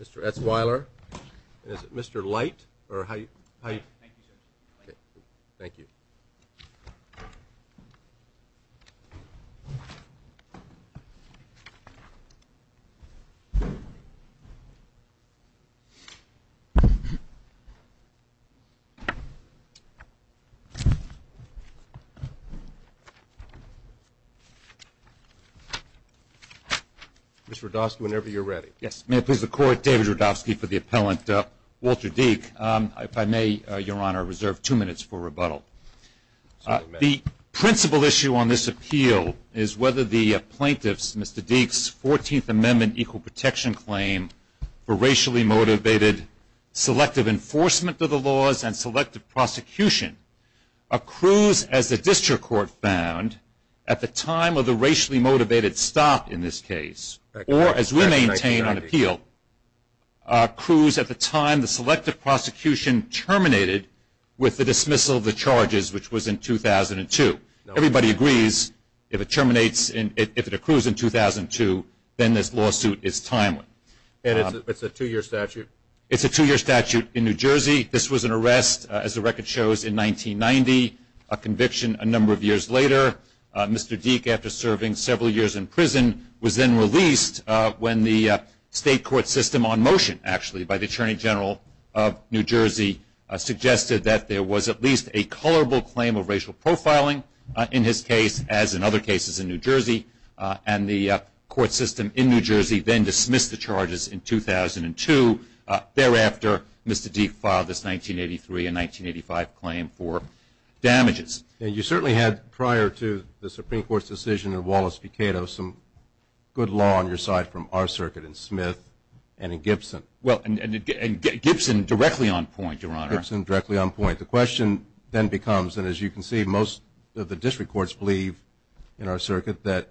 Mr. S. Weiler, and is it Mr. Light, or how are you? Thank you, sir. Thank you. Mr. Rodofsky, whenever you're ready. Yes. May it please the Court, David Rodofsky for the appellant, Walter Dique. If I may, Your Honor, I reserve two minutes for rebuttal. The principal issue on this appeal is whether the plaintiff's, Mr. Dique's, 14th Amendment equal protection claim for racially motivated selective enforcement of the laws and selective prosecution accrues, as the district court found, at the time of the racially motivated stop in this case, or as we maintain on appeal, accrues at the time the selective prosecution terminated with the dismissal of the charges, which was in 2002. Everybody agrees if it terminates, if it accrues in 2002, then this lawsuit is timely. It's a two-year statute? It's a two-year statute in New Jersey. This was an arrest, as the record shows, in 1990, a conviction a number of years later. Mr. Dique, after serving several years in prison, was then released when the state court system on motion, actually, by the Attorney General of New Jersey suggested that there was at least a colorable claim of racial profiling in his case, as in other cases in New Jersey, and the court system in New Jersey then dismissed the charges in 2002. Thereafter, Mr. Dique filed this 1983 and 1985 claim for damages. And you certainly had, prior to the Supreme Court's decision in Wallace v. Cato, some good law on your side from our circuit in Smith and in Gibson. Well, and Gibson directly on point, Your Honor. Gibson directly on point. The question then becomes, and as you can see, most of the district courts believe in our circuit that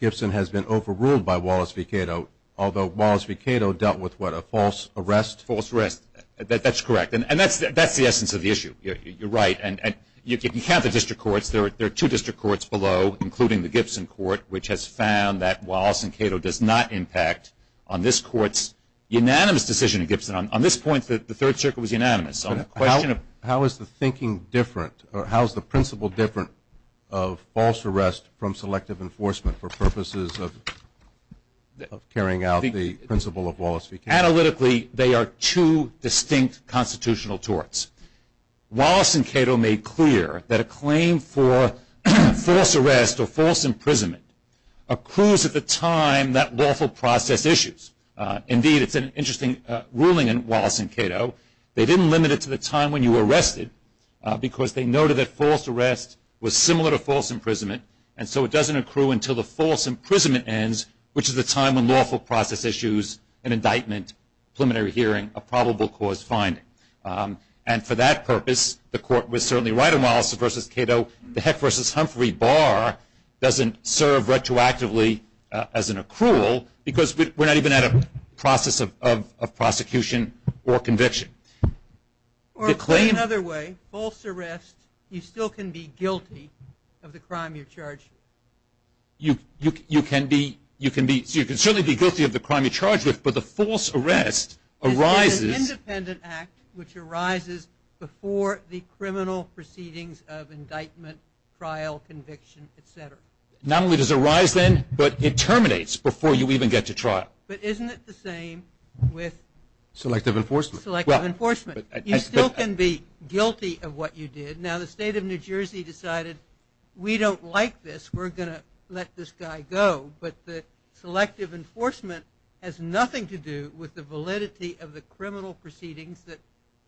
Gibson has been overruled by Wallace v. Cato, although Wallace v. Cato dealt with, what, a false arrest? False arrest. That's correct. And that's the essence of the issue. You're right. And you can count the district courts. There are two district courts below, including the Gibson court, which has found that Wallace v. Cato does not impact on this court's unanimous decision in Gibson. On this point, the third circuit was unanimous. So the question of how is the thinking different, or how is the principle different of false arrest from selective enforcement for purposes of carrying out the principle of Wallace v. Cato? Analytically, they are two distinct constitutional torts. Wallace and Cato made clear that a claim for false arrest or false imprisonment accrues at the time that lawful process issues. Indeed, it's an interesting ruling in Wallace and Cato. They didn't limit it to the time when you were arrested because they noted that false arrest was similar to false imprisonment, and so it doesn't accrue until the false imprisonment ends, which is the time when lawful process issues an indictment, preliminary hearing, a probable cause finding. And for that purpose, the court was certainly right on Wallace v. Cato. The Heck v. Humphrey bar doesn't serve retroactively as an accrual because we're not even at a process of prosecution or conviction. Or to put it another way, false arrest, you still can be guilty of the crime you're charged with. You can certainly be guilty of the crime you're charged with, but the false arrest arises. It's an independent act which arises before the criminal proceedings of indictment, trial, conviction, et cetera. Not only does it arise then, but it terminates before you even get to trial. But isn't it the same with? Selective enforcement. Selective enforcement. You still can be guilty of what you did. Now, the state of New Jersey decided we don't like this, we're going to let this guy go, but the selective enforcement has nothing to do with the validity of the criminal proceedings that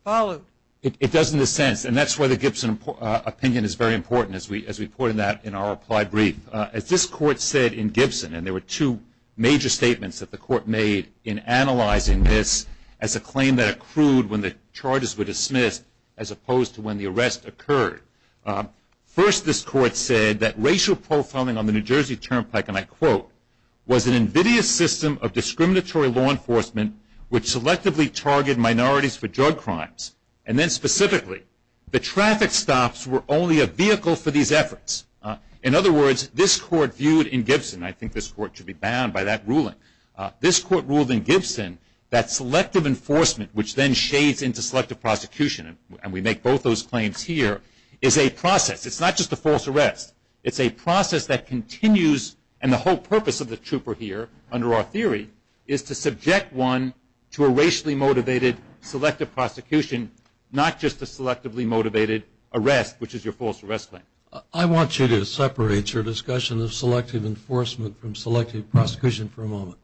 followed. It does in a sense, and that's why the Gibson opinion is very important as we put it in our applied brief. As this court said in Gibson, and there were two major statements that the court made in analyzing this as a claim that accrued when the charges were dismissed as opposed to when the arrest occurred. First, this court said that racial profiling on the New Jersey Turnpike, and I quote, was an invidious system of discriminatory law enforcement which selectively targeted minorities for drug crimes. And then specifically, the traffic stops were only a vehicle for these efforts. In other words, this court viewed in Gibson, and I think this court should be bound by that ruling, this court ruled in Gibson that selective enforcement, which then shades into selective prosecution, and we make both those claims here, is a process. It's not just a false arrest. It's a process that continues, and the whole purpose of the trooper here, under our theory, is to subject one to a racially motivated selective prosecution, not just a selectively motivated arrest, which is your false arrest claim. I want you to separate your discussion of selective enforcement from selective prosecution for a moment.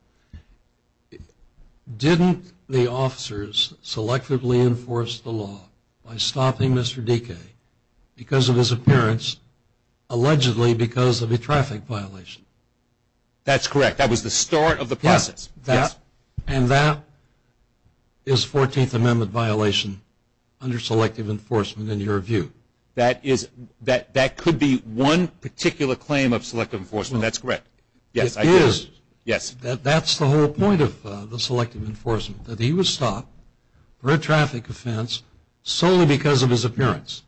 Didn't the officers selectively enforce the law by stopping Mr. Dike because of his appearance, allegedly because of a traffic violation? That's correct. That was the start of the process. And that is 14th Amendment violation under selective enforcement in your view. That could be one particular claim of selective enforcement. That's correct. It is. Yes. That's the whole point of the selective enforcement, that he was stopped for a traffic offense solely because of his appearance,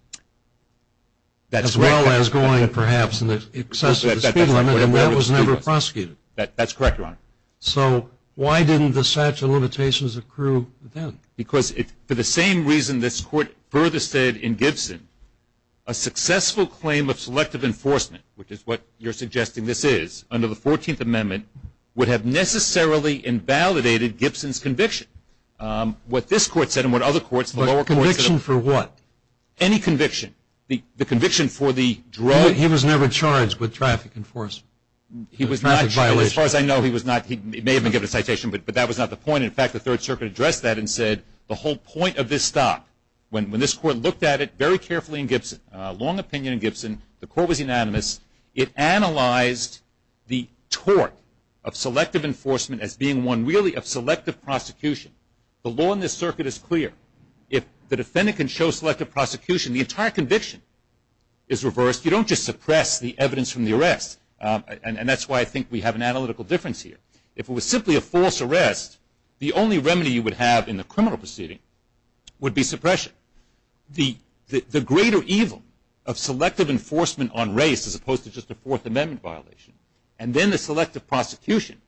as well as going perhaps in excess of the speed limit, and that was never prosecuted. That's correct, Your Honor. So why didn't the statute of limitations accrue then? Because for the same reason this court further said in Gibson, a successful claim of selective enforcement, which is what you're suggesting this is, under the 14th Amendment would have necessarily invalidated Gibson's conviction. What this court said and what other courts, the lower courts said. But conviction for what? Any conviction. The conviction for the drug. He was never charged with traffic enforcement. He was not charged. As far as I know, he was not. He may have been given a citation, but that was not the point. In fact, the Third Circuit addressed that and said the whole point of this stop, when this court looked at it very carefully in Gibson, a long opinion in Gibson, the court was unanimous. It analyzed the tort of selective enforcement as being one really of selective prosecution. The law in this circuit is clear. If the defendant can show selective prosecution, the entire conviction is reversed. You don't just suppress the evidence from the arrest, and that's why I think we have an analytical difference here. If it was simply a false arrest, the only remedy you would have in the criminal proceeding would be suppression. The greater evil of selective enforcement on race, as opposed to just a Fourth Amendment violation, and then the selective prosecution,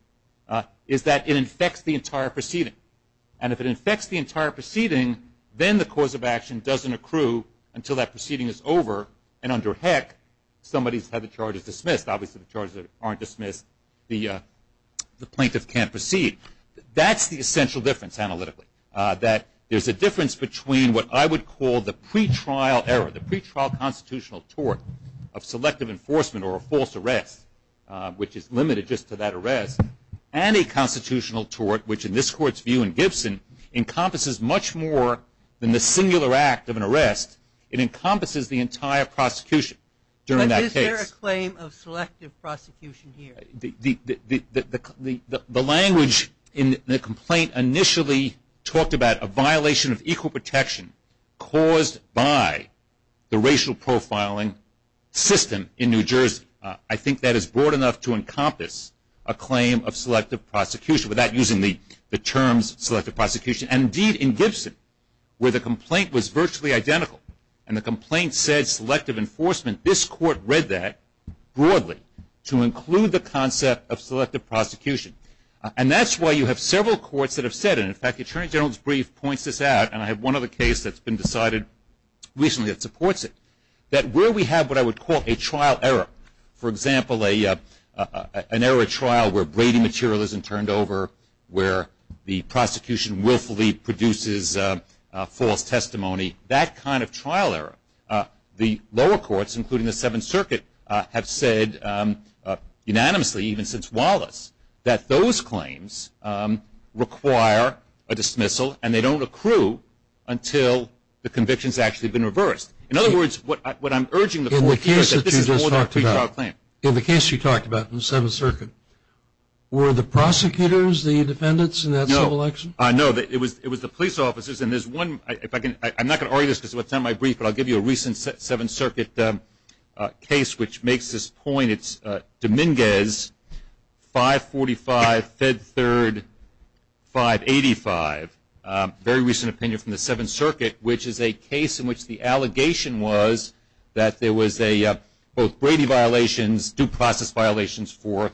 is that it infects the entire proceeding. And if it infects the entire proceeding, then the cause of action doesn't accrue until that proceeding is over, and under heck, somebody's had the charges dismissed. Obviously, the charges aren't dismissed. The plaintiff can't proceed. That's the essential difference analytically, that there's a difference between what I would call the pretrial error, the pretrial constitutional tort of selective enforcement or a false arrest, which is limited just to that arrest, and a constitutional tort which, in this court's view in Gibson, encompasses much more than the singular act of an arrest. It encompasses the entire prosecution during that case. Is there a claim of selective prosecution here? The language in the complaint initially talked about a violation of equal protection caused by the racial profiling system in New Jersey. I think that is broad enough to encompass a claim of selective prosecution, without using the terms selective prosecution. Indeed, in Gibson, where the complaint was virtually identical, and the complaint said selective enforcement, this court read that broadly to include the concept of selective prosecution. And that's why you have several courts that have said it. In fact, the Attorney General's brief points this out, and I have one other case that's been decided recently that supports it, that where we have what I would call a trial error, for example, an error trial where Brady material isn't turned over, where the prosecution willfully produces false testimony, that kind of trial error, the lower courts, including the Seventh Circuit, have said unanimously, even since Wallace, that those claims require a dismissal, and they don't accrue until the conviction has actually been reversed. In other words, what I'm urging the court to do is that this is more than a pretrial claim. In the case you talked about in the Seventh Circuit, were the prosecutors the defendants in that civil election? No. No, it was the police officers. I'm not going to argue this because it's not in my brief, but I'll give you a recent Seventh Circuit case which makes this point. It's Dominguez 545 Fed Third 585, a very recent opinion from the Seventh Circuit, which is a case in which the allegation was that there was both Brady violations, due process violations for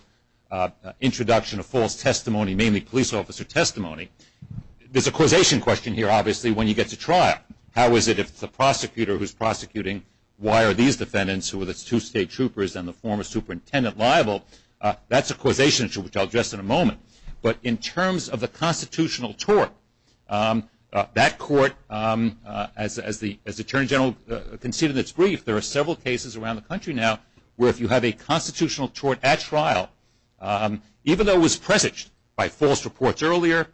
introduction of false testimony, mainly police officer testimony. There's a causation question here, obviously, when you get to trial. How is it if the prosecutor who's prosecuting, why are these defendants who are the two state troopers and the former superintendent liable? That's a causation issue which I'll address in a moment. But in terms of the constitutional tort, that court, as the Attorney General conceded in its brief, there are several cases around the country now where if you have a constitutional tort at trial, even though it was presaged by false reports earlier,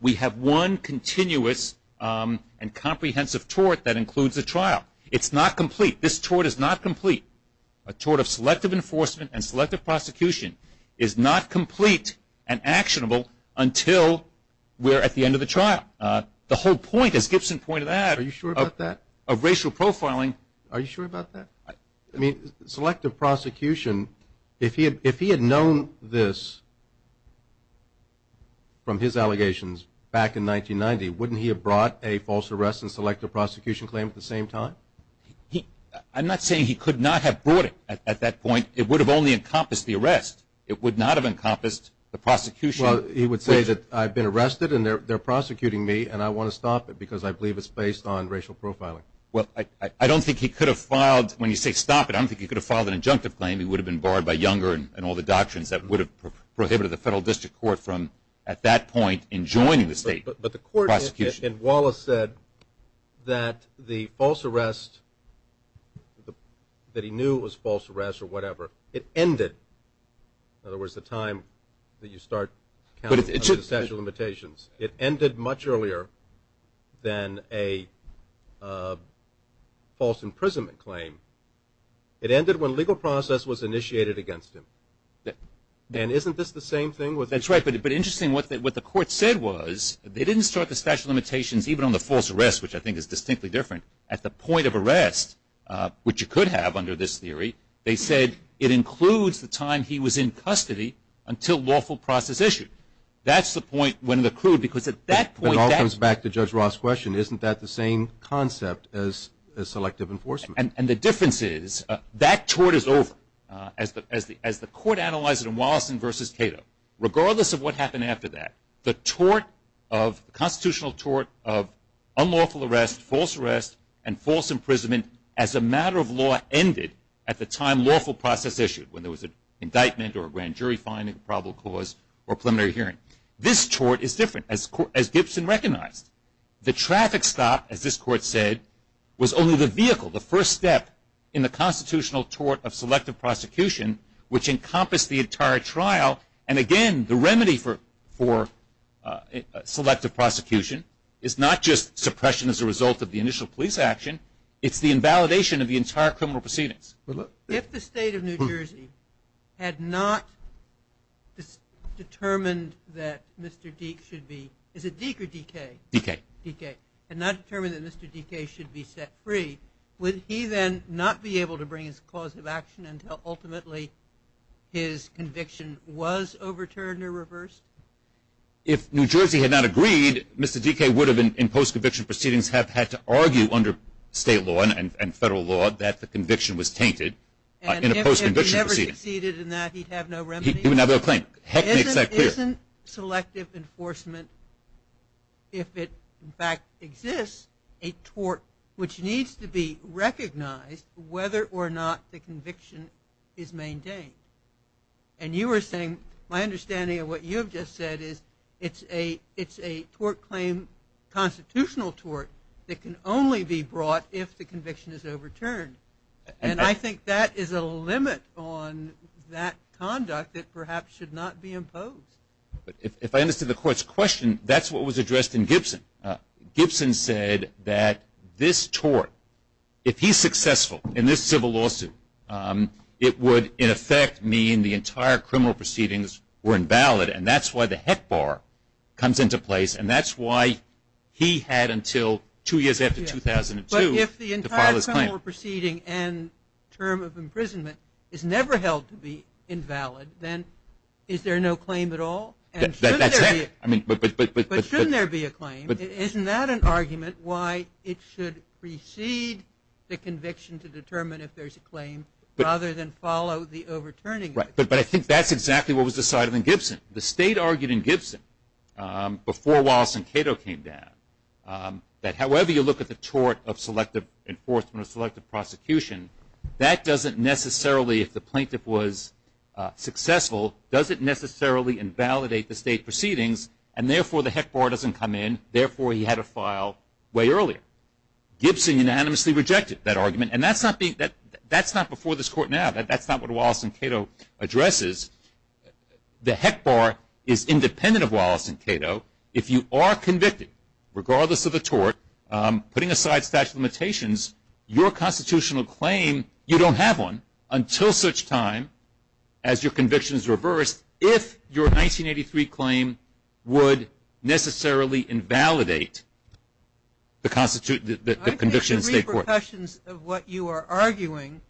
we have one continuous and comprehensive tort that includes a trial. It's not complete. This tort is not complete. A tort of selective enforcement and selective prosecution is not complete and actionable until we're at the end of the trial. The whole point, as Gibson pointed out, of racial profiling. Are you sure about that? Selective prosecution, if he had known this from his allegations back in 1990, wouldn't he have brought a false arrest and selective prosecution claim at the same time? I'm not saying he could not have brought it at that point. It would have only encompassed the arrest. It would not have encompassed the prosecution. Well, he would say that I've been arrested and they're prosecuting me and I want to stop it because I believe it's based on racial profiling. Well, I don't think he could have filed, when you say stop it, I don't think he could have filed an injunctive claim. He would have been barred by Younger and all the doctrines that would have prohibited the federal district court from, at that point, enjoining the state prosecution. But the court in Wallace said that the false arrest, that he knew it was false arrest or whatever, it ended, in other words, the time that you start counting the statute of limitations. It ended much earlier than a false imprisonment claim. It ended when a legal process was initiated against him. And isn't this the same thing? That's right. But interesting, what the court said was they didn't start the statute of limitations, even on the false arrest, which I think is distinctly different. At the point of arrest, which you could have under this theory, they said it includes the time he was in custody until lawful process issued. That's the point when the clue, because at that point, that's the point. It all comes back to Judge Ross' question. Isn't that the same concept as selective enforcement? And the difference is that tort is over. As the court analyzed it in Wallace v. Cato, regardless of what happened after that, the tort of constitutional tort of unlawful arrest, false arrest, and false imprisonment as a matter of law ended at the time lawful process issued, when there was an indictment or a grand jury finding, probable cause, or preliminary hearing. This tort is different, as Gibson recognized. The traffic stop, as this court said, was only the vehicle, the first step in the constitutional tort of selective prosecution, which encompassed the entire trial. And, again, the remedy for selective prosecution is not just suppression as a result of the initial police action. It's the invalidation of the entire criminal proceedings. If the State of New Jersey had not determined that Mr. Deke should be set free, would he then not be able to bring his cause of action until, ultimately, his conviction was overturned or reversed? If New Jersey had not agreed, Mr. Deke would have, in post-conviction proceedings, have had to argue under state law and federal law that the conviction was tainted in a post-conviction proceeding. And if he never succeeded in that, he'd have no remedy? He'd have no claim. Heck makes that clear. Isn't selective enforcement, if it, in fact, exists, a tort which needs to be recognized whether or not the conviction is maintained? And you were saying, my understanding of what you have just said is it's a tort claim, constitutional tort that can only be brought if the conviction is overturned. And I think that is a limit on that conduct that perhaps should not be imposed. If I understood the Court's question, that's what was addressed in Gibson. Gibson said that this tort, if he's successful in this civil lawsuit, it would, in effect, mean the entire criminal proceedings were invalid. And that's why the heck bar comes into place. And that's why he had until two years after 2002 to file his claim. But if the entire criminal proceeding and term of imprisonment is never held to be invalid, then is there no claim at all? But shouldn't there be a claim? Isn't that an argument why it should precede the conviction to determine if there's a claim, rather than follow the overturning of it? But I think that's exactly what was decided in Gibson. The State argued in Gibson, before Wallace and Cato came down, that however you look at the tort of selective enforcement or selective prosecution, that doesn't necessarily, if the plaintiff was successful, doesn't necessarily invalidate the State proceedings, and therefore the heck bar doesn't come in, therefore he had to file way earlier. Gibson unanimously rejected that argument. And that's not before this Court now. That's not what Wallace and Cato addresses. The heck bar is independent of Wallace and Cato. If you are convicted, regardless of the tort, putting aside statute of limitations, your constitutional claim, you don't have one until such time as your conviction is reversed, if your 1983 claim would necessarily invalidate the conviction in State court. I think the repercussions of what you are arguing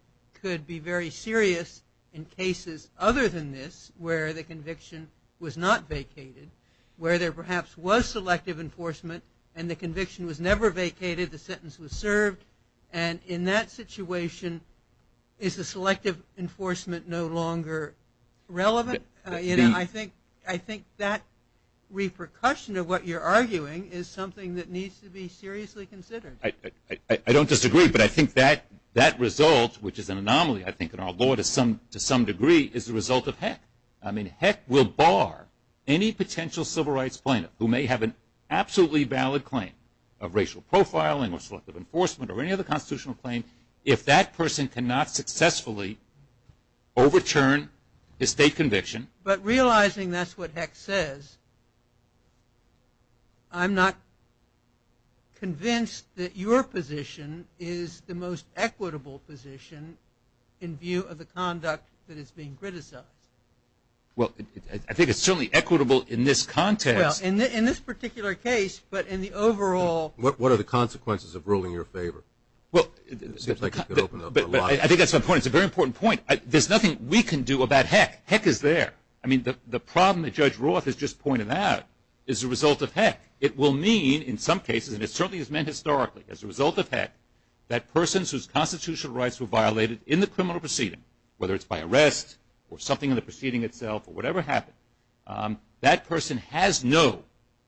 could be very serious in cases other than this, where the conviction was not vacated, where there perhaps was selective enforcement and the conviction was never vacated, the sentence was served, and in that situation is the selective enforcement no longer relevant? I think that repercussion of what you're arguing is something that needs to be seriously considered. I don't disagree, but I think that result, which is an anomaly, I think, in our law to some degree, is the result of heck. I mean, heck will bar any potential civil rights plaintiff who may have an absolutely valid claim of racial profiling or selective enforcement or any other constitutional claim if that person cannot successfully overturn his State conviction. But realizing that's what heck says, I'm not convinced that your position is the most equitable position in view of the conduct that is being criticized. Well, I think it's certainly equitable in this context. Well, in this particular case, but in the overall. What are the consequences of ruling in your favor? Well, I think that's a very important point. There's nothing we can do about heck. Heck is there. I mean, the problem that Judge Roth has just pointed out is the result of heck. It will mean in some cases, and it certainly has been historically as a result of heck, that persons whose constitutional rights were violated in the criminal proceeding, whether it's by arrest or something in the proceeding itself or whatever happened, that person has no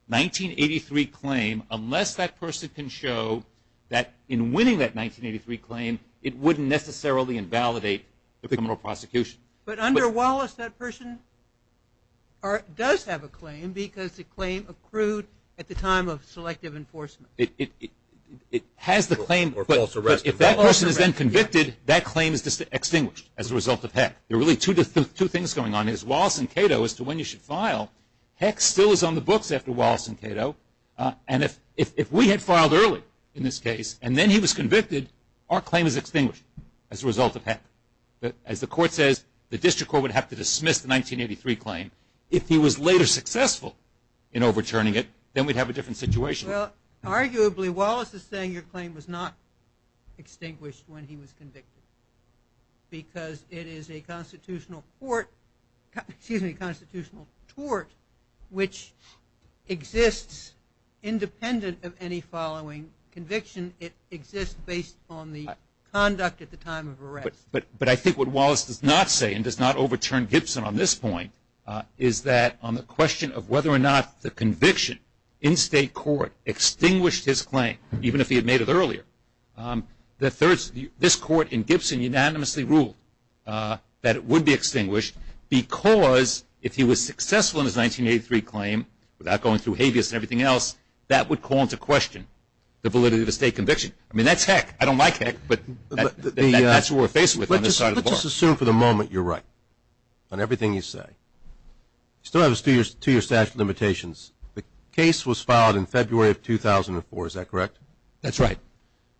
1983 claim unless that person can show that in winning that 1983 claim, it wouldn't necessarily invalidate the criminal prosecution. But under Wallace, that person does have a claim because the claim accrued at the time of selective enforcement. It has the claim. If that person is then convicted, that claim is extinguished as a result of heck. There are really two things going on. Wallace and Cato, as to when you should file, heck still is on the books after Wallace and Cato. And if we had filed early in this case and then he was convicted, our claim is extinguished as a result of heck. As the Court says, the district court would have to dismiss the 1983 claim. If he was later successful in overturning it, then we'd have a different situation. Well, arguably, Wallace is saying your claim was not extinguished when he was convicted because it is a constitutional tort which exists independent of any following conviction. It exists based on the conduct at the time of arrest. But I think what Wallace does not say and does not overturn Gibson on this point is that on the question of whether or not the conviction in state court extinguished his claim, even if he had made it earlier, this Court in Gibson unanimously ruled that it would be extinguished because if he was successful in his 1983 claim without going through habeas and everything else, that would call into question the validity of the state conviction. I mean, that's heck. I don't like heck, but that's what we're faced with on this side of the bar. Let's assume for the moment you're right on everything you say. You still have a two-year statute of limitations. The case was filed in February of 2004. Is that correct? That's right.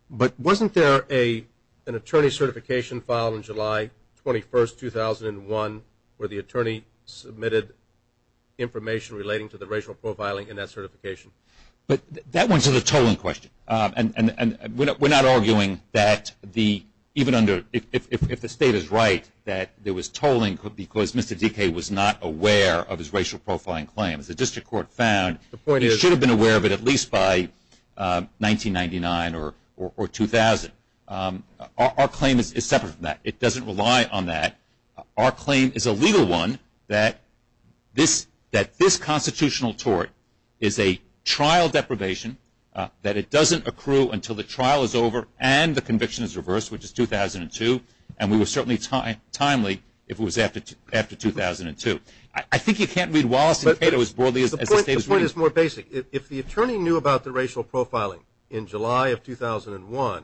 But wasn't there an attorney certification filed in July 21, 2001, where the attorney submitted information relating to the racial profiling in that certification? But that went to the tolling question. We're not arguing that even if the state is right that there was tolling because Mr. Dike was not aware of his racial profiling claim. The district court found he should have been aware of it at least by 1999 or 2000. Our claim is separate from that. It doesn't rely on that. Our claim is a legal one that this constitutional tort is a trial deprivation, that it doesn't accrue until the trial is over and the conviction is reversed, which is 2002, and we were certainly timely if it was after 2002. I think you can't read Wallace and Cato as broadly as the state is reading. The point is more basic. If the attorney knew about the racial profiling in July of 2001,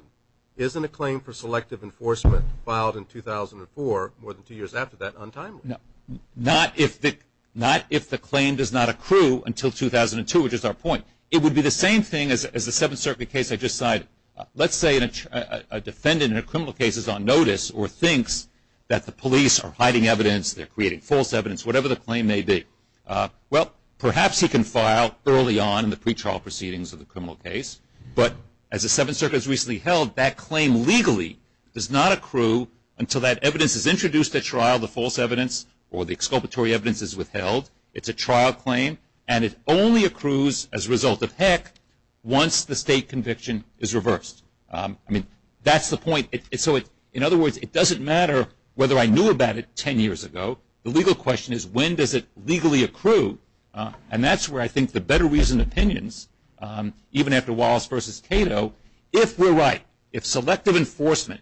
isn't a claim for selective enforcement filed in 2004, more than two years after that, untimely? Not if the claim does not accrue until 2002, which is our point. It would be the same thing as the Seventh Circuit case I just cited. Let's say a defendant in a criminal case is on notice or thinks that the police are hiding evidence, they're creating false evidence, whatever the claim may be. Well, perhaps he can file early on in the pretrial proceedings of the criminal case, but as the Seventh Circuit has recently held, that claim legally does not accrue until that evidence is introduced at trial, the false evidence or the exculpatory evidence is withheld. It's a trial claim, and it only accrues as a result of heck once the state conviction is reversed. I mean, that's the point. In other words, it doesn't matter whether I knew about it ten years ago. The legal question is when does it legally accrue? And that's where I think the better reasoned opinions, even after Wallace versus Cato, if we're right, if selective enforcement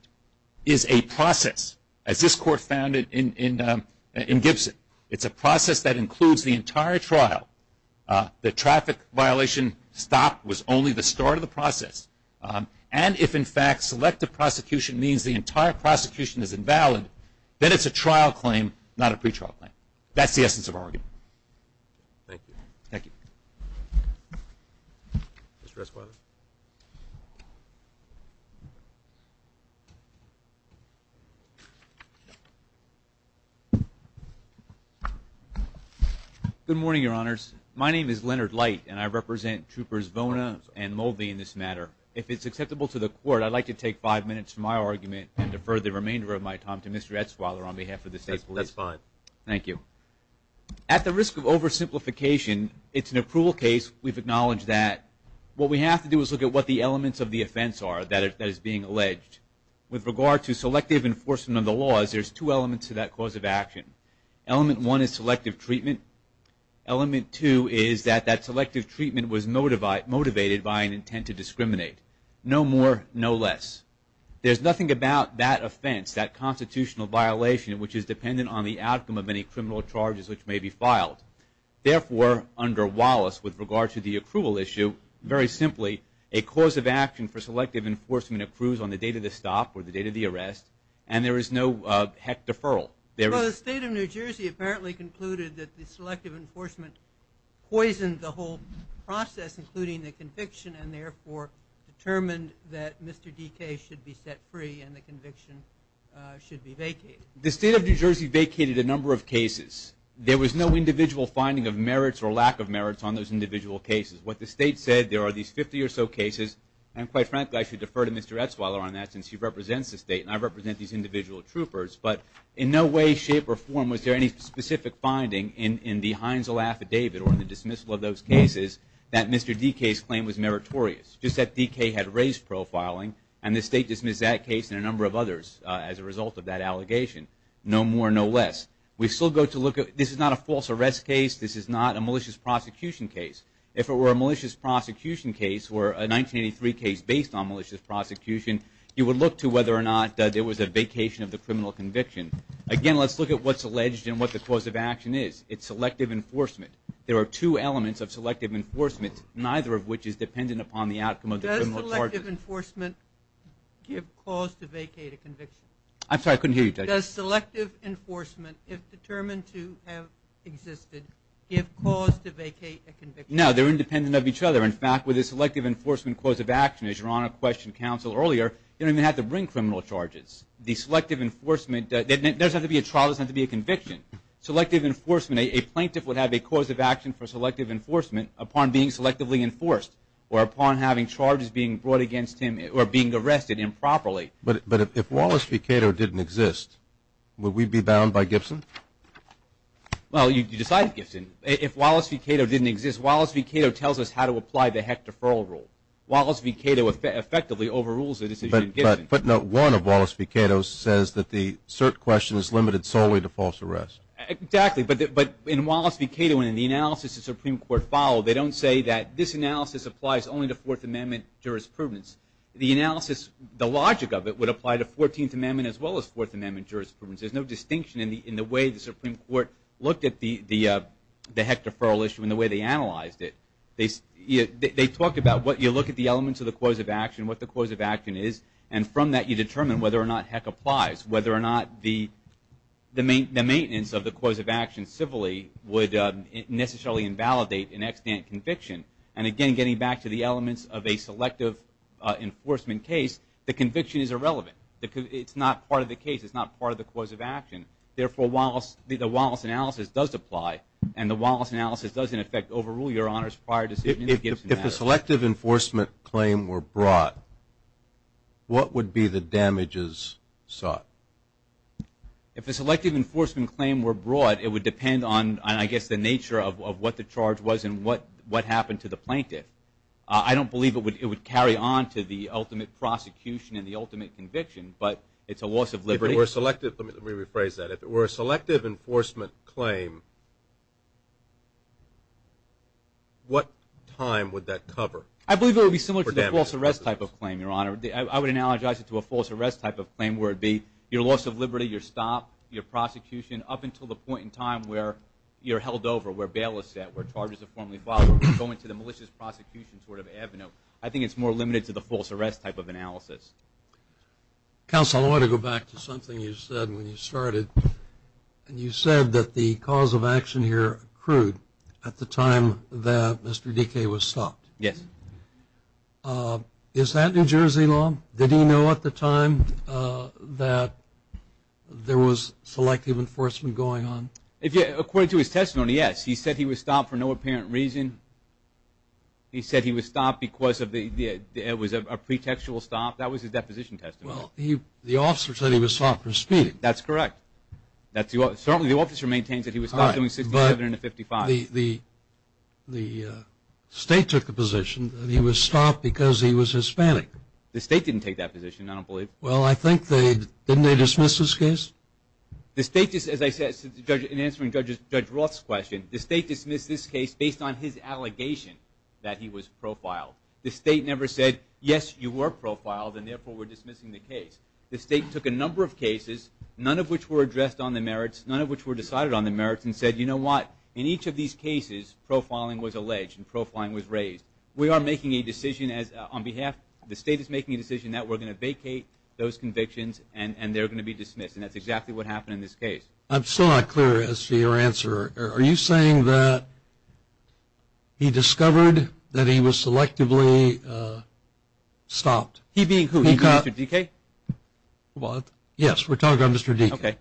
is a process, as this court found it in Gibson, it's a process that includes the entire trial. The traffic violation stop was only the start of the process. And if, in fact, selective prosecution means the entire prosecution is invalid, then it's a trial claim, not a pretrial claim. That's the essence of our argument. Thank you. Good morning, Your Honors. My name is Leonard Light, and I represent Troopers Vona and Mulvey in this matter. If it's acceptable to the court, I'd like to take five minutes from my argument and defer the remainder of my time to Mr. Etzweiler on behalf of the State Police. That's fine. Thank you. At the risk of oversimplification, it's an approval case. We've acknowledged that. What we have to do is look at what the elements of the offense are that is being alleged. With regard to selective enforcement of the laws, there's two elements to that cause of action. Element one is selective treatment. Element two is that that selective treatment was motivated by an intent to discriminate. No more, no less. There's nothing about that offense, that constitutional violation, which is dependent on the outcome of any criminal charges which may be filed. Therefore, under Wallace, with regard to the approval issue, very simply, a cause of action for selective enforcement accrues on the date of the stop or the date of the arrest, and there is no heck deferral. The State of New Jersey apparently concluded that the selective enforcement poisoned the whole process, including the conviction, and therefore determined that Mr. DK should be set free and the conviction should be vacated. The State of New Jersey vacated a number of cases. There was no individual finding of merits or lack of merits on those individual cases. What the State said, there are these 50 or so cases, and quite frankly I should defer to Mr. Etzweiler on that since he represents the State and I represent these individual troopers, but in no way, shape, or form was there any specific finding in the Heinzel Affidavit or in the dismissal of those cases that Mr. DK's claim was meritorious, just that DK had raised profiling, and the State dismissed that case and a number of others as a result of that allegation. No more, no less. This is not a false arrest case. This is not a malicious prosecution case. If it were a malicious prosecution case or a 1983 case based on malicious prosecution, you would look to whether or not there was a vacation of the criminal conviction. Again, let's look at what's alleged and what the cause of action is. It's selective enforcement. There are two elements of selective enforcement, neither of which is dependent upon the outcome of the criminal charges. Does selective enforcement give cause to vacate a conviction? I'm sorry, I couldn't hear you. Does selective enforcement, if determined to have existed, give cause to vacate a conviction? No, they're independent of each other. In fact, with a selective enforcement cause of action, as Your Honor questioned counsel earlier, you don't even have to bring criminal charges. The selective enforcement doesn't have to be a trial, it doesn't have to be a conviction. Selective enforcement, a plaintiff would have a cause of action for selective enforcement upon being selectively enforced or upon having charges being brought against him or being arrested improperly. But if Wallace v. Cato didn't exist, would we be bound by Gibson? Well, you decide, Gibson. If Wallace v. Cato didn't exist, Wallace v. Cato tells us how to apply the Heck Deferral Rule. Wallace v. Cato effectively overrules the decision in Gibson. But note one of Wallace v. Cato's says that the cert question is limited solely to false arrest. Exactly. But in Wallace v. Cato and in the analysis the Supreme Court followed, they don't say that this analysis applies only to Fourth Amendment jurisprudence. The logic of it would apply to Fourteenth Amendment as well as Fourth Amendment jurisprudence. There's no distinction in the way the Supreme Court looked at the Heck Deferral Issue and the way they analyzed it. They talked about what you look at the elements of the cause of action, what the cause of action is, and from that you determine whether or not Heck applies, whether or not the maintenance of the cause of action civilly would necessarily invalidate an extant conviction. And again, getting back to the elements of a selective enforcement case, the conviction is irrelevant. It's not part of the case. It's not part of the cause of action. Therefore, the Wallace analysis does apply, and the Wallace analysis does, in effect, overrule your Honor's prior decision in Gibson. If a selective enforcement claim were brought, what would be the damages sought? If a selective enforcement claim were brought, it would depend on, I guess, the nature of what the charge was and what happened to the plaintiff. I don't believe it would carry on to the ultimate prosecution and the ultimate conviction, but it's a loss of liberty. Let me rephrase that. If it were a selective enforcement claim, what time would that cover? I believe it would be similar to the false arrest type of claim, Your Honor. I would analogize it to a false arrest type of claim where it would be your loss of liberty, your stop, your prosecution, up until the point in time where you're held over, where bail is set, where charges are formally filed, where you go into the malicious prosecution sort of avenue. Counsel, I want to go back to something you said when you started. You said that the cause of action here accrued at the time that Mr. Dike was stopped. Yes. Is that New Jersey law? Did he know at the time that there was selective enforcement going on? According to his testimony, yes. He said he was stopped for no apparent reason. He said he was stopped because it was a pretextual stop. That was his deposition testimony. Well, the officer said he was stopped for speeding. That's correct. Certainly the officer maintains that he was stopped doing 67 and a 55. The state took the position that he was stopped because he was Hispanic. The state didn't take that position, I don't believe. Well, I think they did. Didn't they dismiss this case? The state, as I said, in answering Judge Roth's question, the state dismissed this case based on his allegation that he was profiled. The state never said, yes, you were profiled, and, therefore, we're dismissing the case. The state took a number of cases, none of which were addressed on the merits, none of which were decided on the merits, and said, you know what, in each of these cases profiling was alleged and profiling was raised. We are making a decision on behalf, the state is making a decision that we're going to vacate those convictions and they're going to be dismissed, and that's exactly what happened in this case. I'm still not clear as to your answer. Are you saying that he discovered that he was selectively stopped? He being who? He being Mr. Dekay? Yes, we're talking about Mr. Dekay. Okay.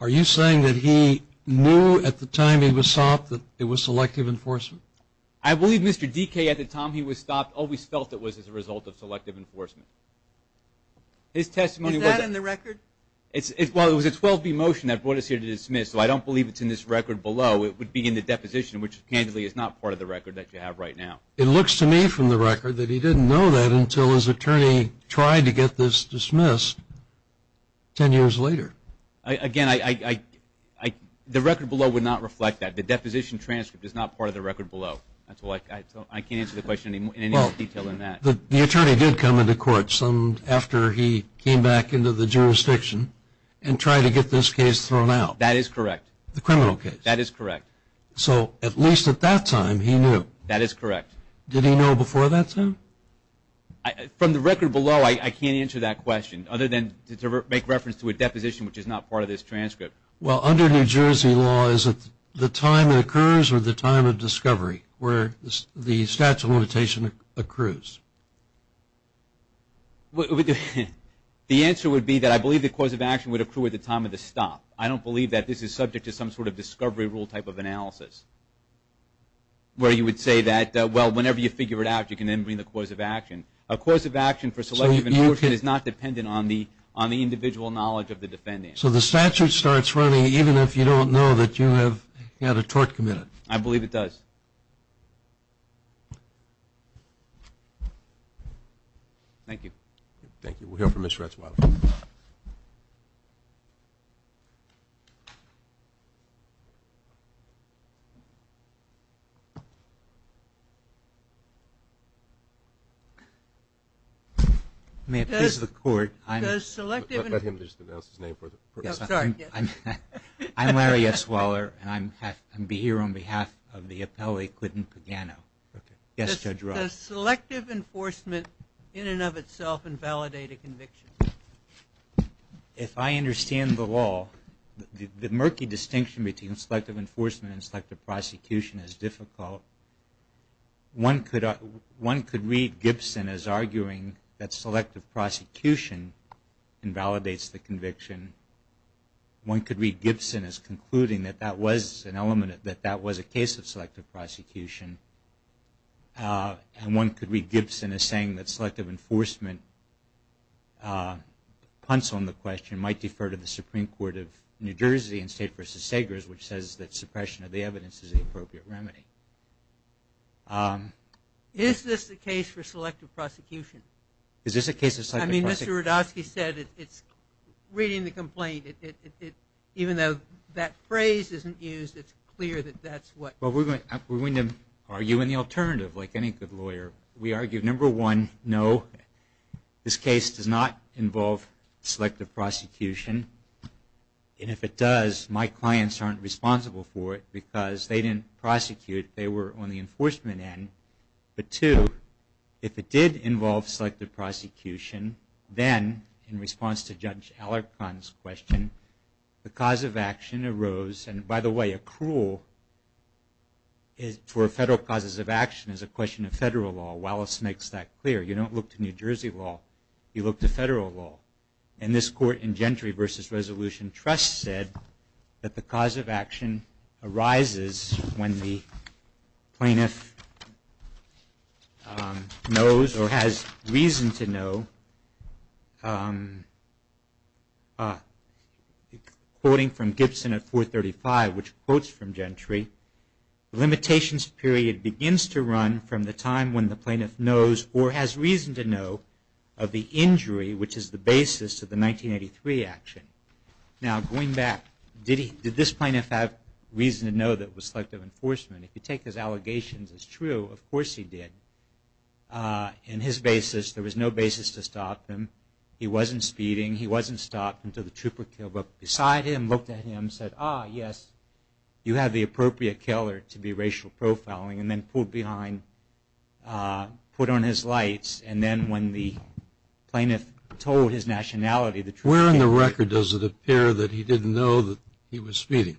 Are you saying that he knew at the time he was stopped that it was selective enforcement? I believe Mr. Dekay, at the time he was stopped, always felt it was as a result of selective enforcement. Is that in the record? Well, it was a 12B motion that brought us here to dismiss, so I don't believe it's in this record below. It would be in the deposition, which candidly is not part of the record that you have right now. It looks to me from the record that he didn't know that until his attorney tried to get this dismissed ten years later. Again, the record below would not reflect that. The deposition transcript is not part of the record below. I can't answer the question in any more detail than that. Well, the attorney did come into court after he came back into the jurisdiction and tried to get this case thrown out. That is correct. The criminal case. That is correct. So at least at that time he knew. That is correct. Did he know before that time? From the record below, I can't answer that question, other than to make reference to a deposition, which is not part of this transcript. Well, under New Jersey law, is it the time it occurs or the time of discovery where the statute of limitation accrues? The answer would be that I believe the cause of action would accrue at the time of the stop. I don't believe that this is subject to some sort of discovery rule type of analysis, where you would say that, well, whenever you figure it out, you can then bring the cause of action. A cause of action for selective abortion is not dependent on the individual knowledge of the defendant. So the statute starts running even if you don't know that you have had a tort committed? I believe it does. Thank you. Thank you. We'll go for Ms. Ratzweiler. May it please the Court. Let him just announce his name. I'm Larry S. Waller, and I'm here on behalf of the appellee, Clinton Pagano. Yes, Judge Roth. Does selective enforcement in and of itself invalidate a conviction? If I understand the law, the murky distinction between selective enforcement and selective prosecution is difficult. One could read Gibson as arguing that selective prosecution invalidates the conviction. One could read Gibson as concluding that that was an element, that that was a case of selective prosecution. And one could read Gibson as saying that selective enforcement punts on the question might defer to the Supreme Court of New Jersey in State v. Sagers, which says that suppression of the evidence is an appropriate remedy. Is this a case for selective prosecution? Is this a case of selective prosecution? I mean, Mr. Rudofsky said it's, reading the complaint, even though that phrase isn't used, it's clear that that's what. Well, we're going to argue in the alternative, like any good lawyer. We argue, number one, no, this case does not involve selective prosecution. And if it does, my clients aren't responsible for it because they didn't prosecute. They were on the enforcement end. But, two, if it did involve selective prosecution, then in response to Judge Alarcon's question, the cause of action arose. And, by the way, a cruel, for federal causes of action is a question of federal law. Wallace makes that clear. You don't look to New Jersey law. You look to federal law. And this court in Gentry v. Resolution Trust said that the cause of action arises when the plaintiff knows or has reason to know, quoting from Gibson at 435, which quotes from Gentry, the limitations period begins to run from the time when the plaintiff knows or has reason to know of the injury, which is the basis of the 1983 action. Now, going back, did this plaintiff have reason to know that it was selective enforcement? If you take his allegations as true, of course he did. In his basis, there was no basis to stop him. He wasn't speeding. He wasn't stopped until the trooper killed him. Beside him, looked at him, said, ah, yes, you have the appropriate killer to be racial profiling, and then pulled behind, put on his lights. And then when the plaintiff told his nationality, the trooper came. Where in the record does it appear that he didn't know that he was speeding?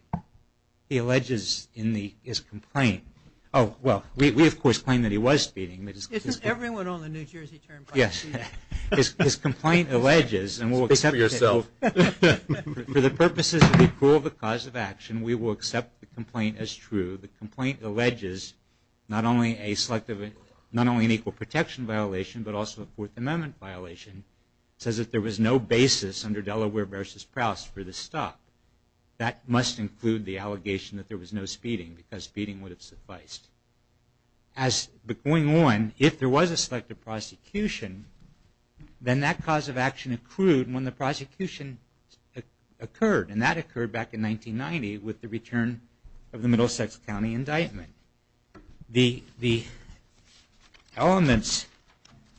He alleges in his complaint. Oh, well, we, of course, claim that he was speeding. Isn't everyone on the New Jersey term part of speeding? His complaint alleges, and we'll accept it. Speak for yourself. For the purposes of the cause of action, we will accept the complaint as true. The complaint alleges not only an equal protection violation, but also a Fourth Amendment violation. It says that there was no basis under Delaware v. Prowse for the stop. That must include the allegation that there was no speeding, because speeding would have sufficed. Going on, if there was a selective prosecution, then that cause of action accrued when the prosecution occurred. And that occurred back in 1990 with the return of the Middlesex County indictment. The elements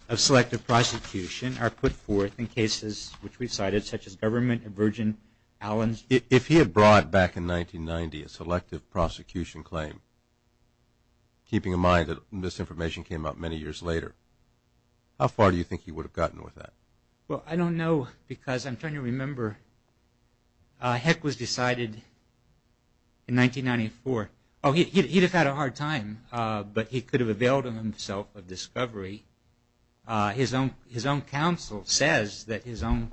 of selective prosecution are put forth in cases which we cited, such as Government and Virgin Allens. If he had brought back in 1990 a selective prosecution claim, keeping in mind that this information came out many years later, how far do you think he would have gotten with that? Well, I don't know, because I'm trying to remember. Heck was decided in 1994. Oh, he'd have had a hard time, but he could have availed himself of discovery. His own counsel says that his own,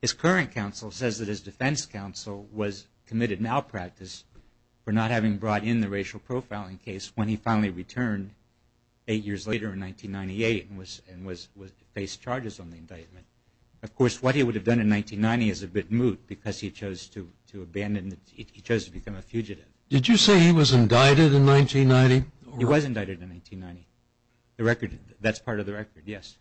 his current counsel says that his defense counsel was committed malpractice for not having brought in the racial profiling case when he finally returned eight years later in 1998 and faced charges on the indictment. Of course, what he would have done in 1990 is a bit moot, because he chose to abandon, he chose to become a fugitive. Did you say he was indicted in 1990? He was indicted in 1990. The record, that's part of the record, yes.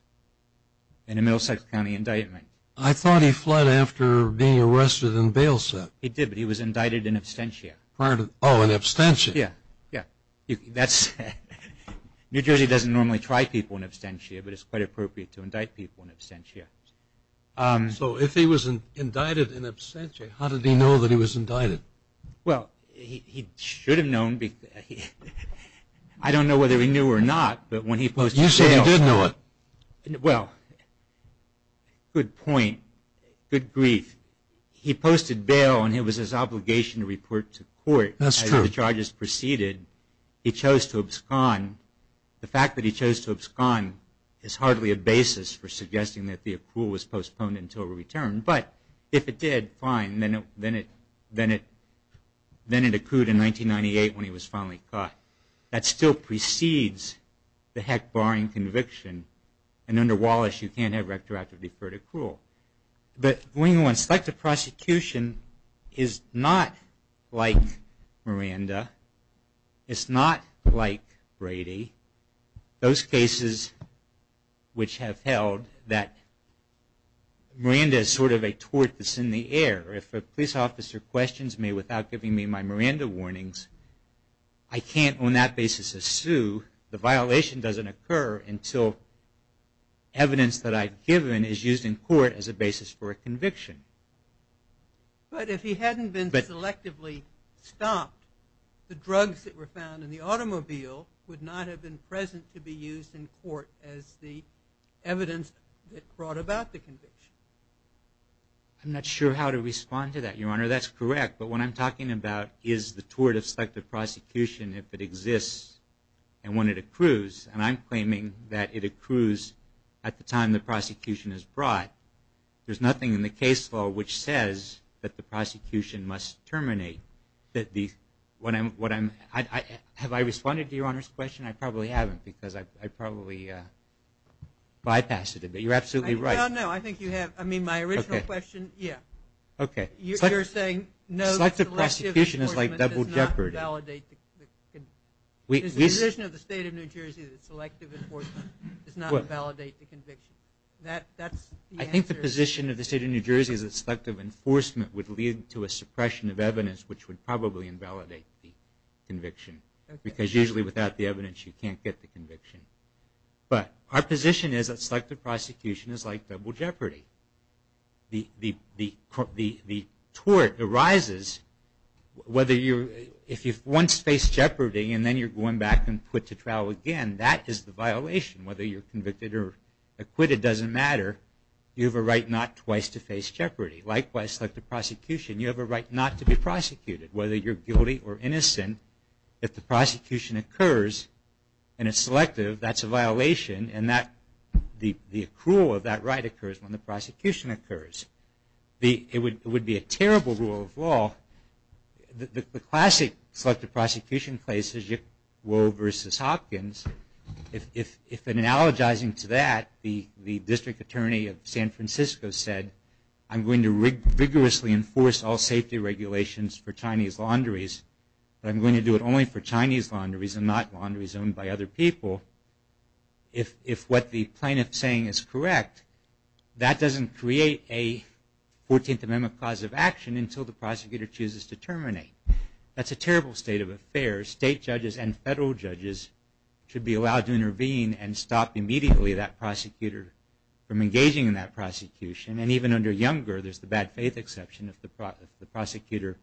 In the Middlesex County indictment. I thought he fled after being arrested and bailed. He did, but he was indicted in absentia. Oh, in absentia. Yeah, yeah. New Jersey doesn't normally try people in absentia, but it's quite appropriate to indict people in absentia. So if he was indicted in absentia, how did he know that he was indicted? Well, he should have known. I don't know whether he knew or not, but when he posted bail. You said he did know it. Well, good point, good grief. He posted bail, and it was his obligation to report to court. That's true. As the charges proceeded, he chose to abscond. The fact that he chose to abscond is hardly a basis for suggesting that the accrual was postponed until a return. But if it did, fine, then it accrued in 1998 when he was finally caught. That still precedes the heck barring conviction, and under Wallace you can't have retroactive deferred accrual. But going on selective prosecution is not like Miranda. It's not like Brady. Those cases which have held that Miranda is sort of a tort that's in the air. If a police officer questions me without giving me my Miranda warnings, I can't on that basis sue. The violation doesn't occur until evidence that I've given is used in court as a basis for a conviction. But if he hadn't been selectively stopped, the drugs that were found in the automobile would not have been present to be used in court as the evidence that brought about the conviction. I'm not sure how to respond to that, Your Honor. That's correct. But what I'm talking about is the tort of selective prosecution if it exists and when it accrues. And I'm claiming that it accrues at the time the prosecution is brought. There's nothing in the case law which says that the prosecution must terminate. Have I responded to Your Honor's question? I probably haven't because I probably bypassed it. But you're absolutely right. No, I think you have. I mean, my original question, yeah. Okay. Selective prosecution is like double jeopardy. Is the position of the State of New Jersey that selective enforcement does not invalidate the conviction? I think the position of the State of New Jersey is that selective enforcement would lead to a suppression of evidence which would probably invalidate the conviction because usually without the evidence you can't get the conviction. But our position is that selective prosecution is like double jeopardy. The tort arises whether you're – if you once face jeopardy and then you're going back and put to trial again, that is the violation. Whether you're convicted or acquitted doesn't matter. You have a right not twice to face jeopardy. Likewise, like the prosecution, you have a right not to be prosecuted. Whether you're guilty or innocent, if the prosecution occurs and it's selective, that's a violation. And the accrual of that right occurs when the prosecution occurs. It would be a terrible rule of law. The classic selective prosecution place is Yip Wo versus Hopkins. If in analogizing to that, the District Attorney of San Francisco said, I'm going to rigorously enforce all safety regulations for Chinese laundries, but I'm going to do it only for Chinese laundries and not laundries owned by other people, if what the plaintiff is saying is correct, that doesn't create a 14th Amendment cause of action until the prosecutor chooses to terminate. That's a terrible state of affairs. State judges and federal judges should be allowed to intervene and stop immediately that prosecutor from engaging in that prosecution. And even under Younger, there's the bad faith exception if the prosecutor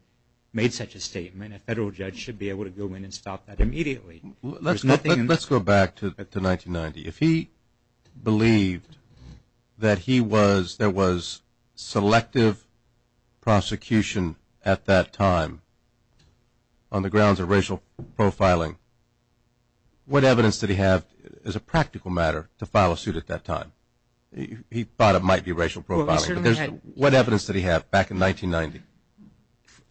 made such a statement. A federal judge should be able to go in and stop that immediately. Let's go back to 1990. If he believed that there was selective prosecution at that time on the grounds of racial profiling, what evidence did he have as a practical matter to file a suit at that time? He thought it might be racial profiling. What evidence did he have back in 1990?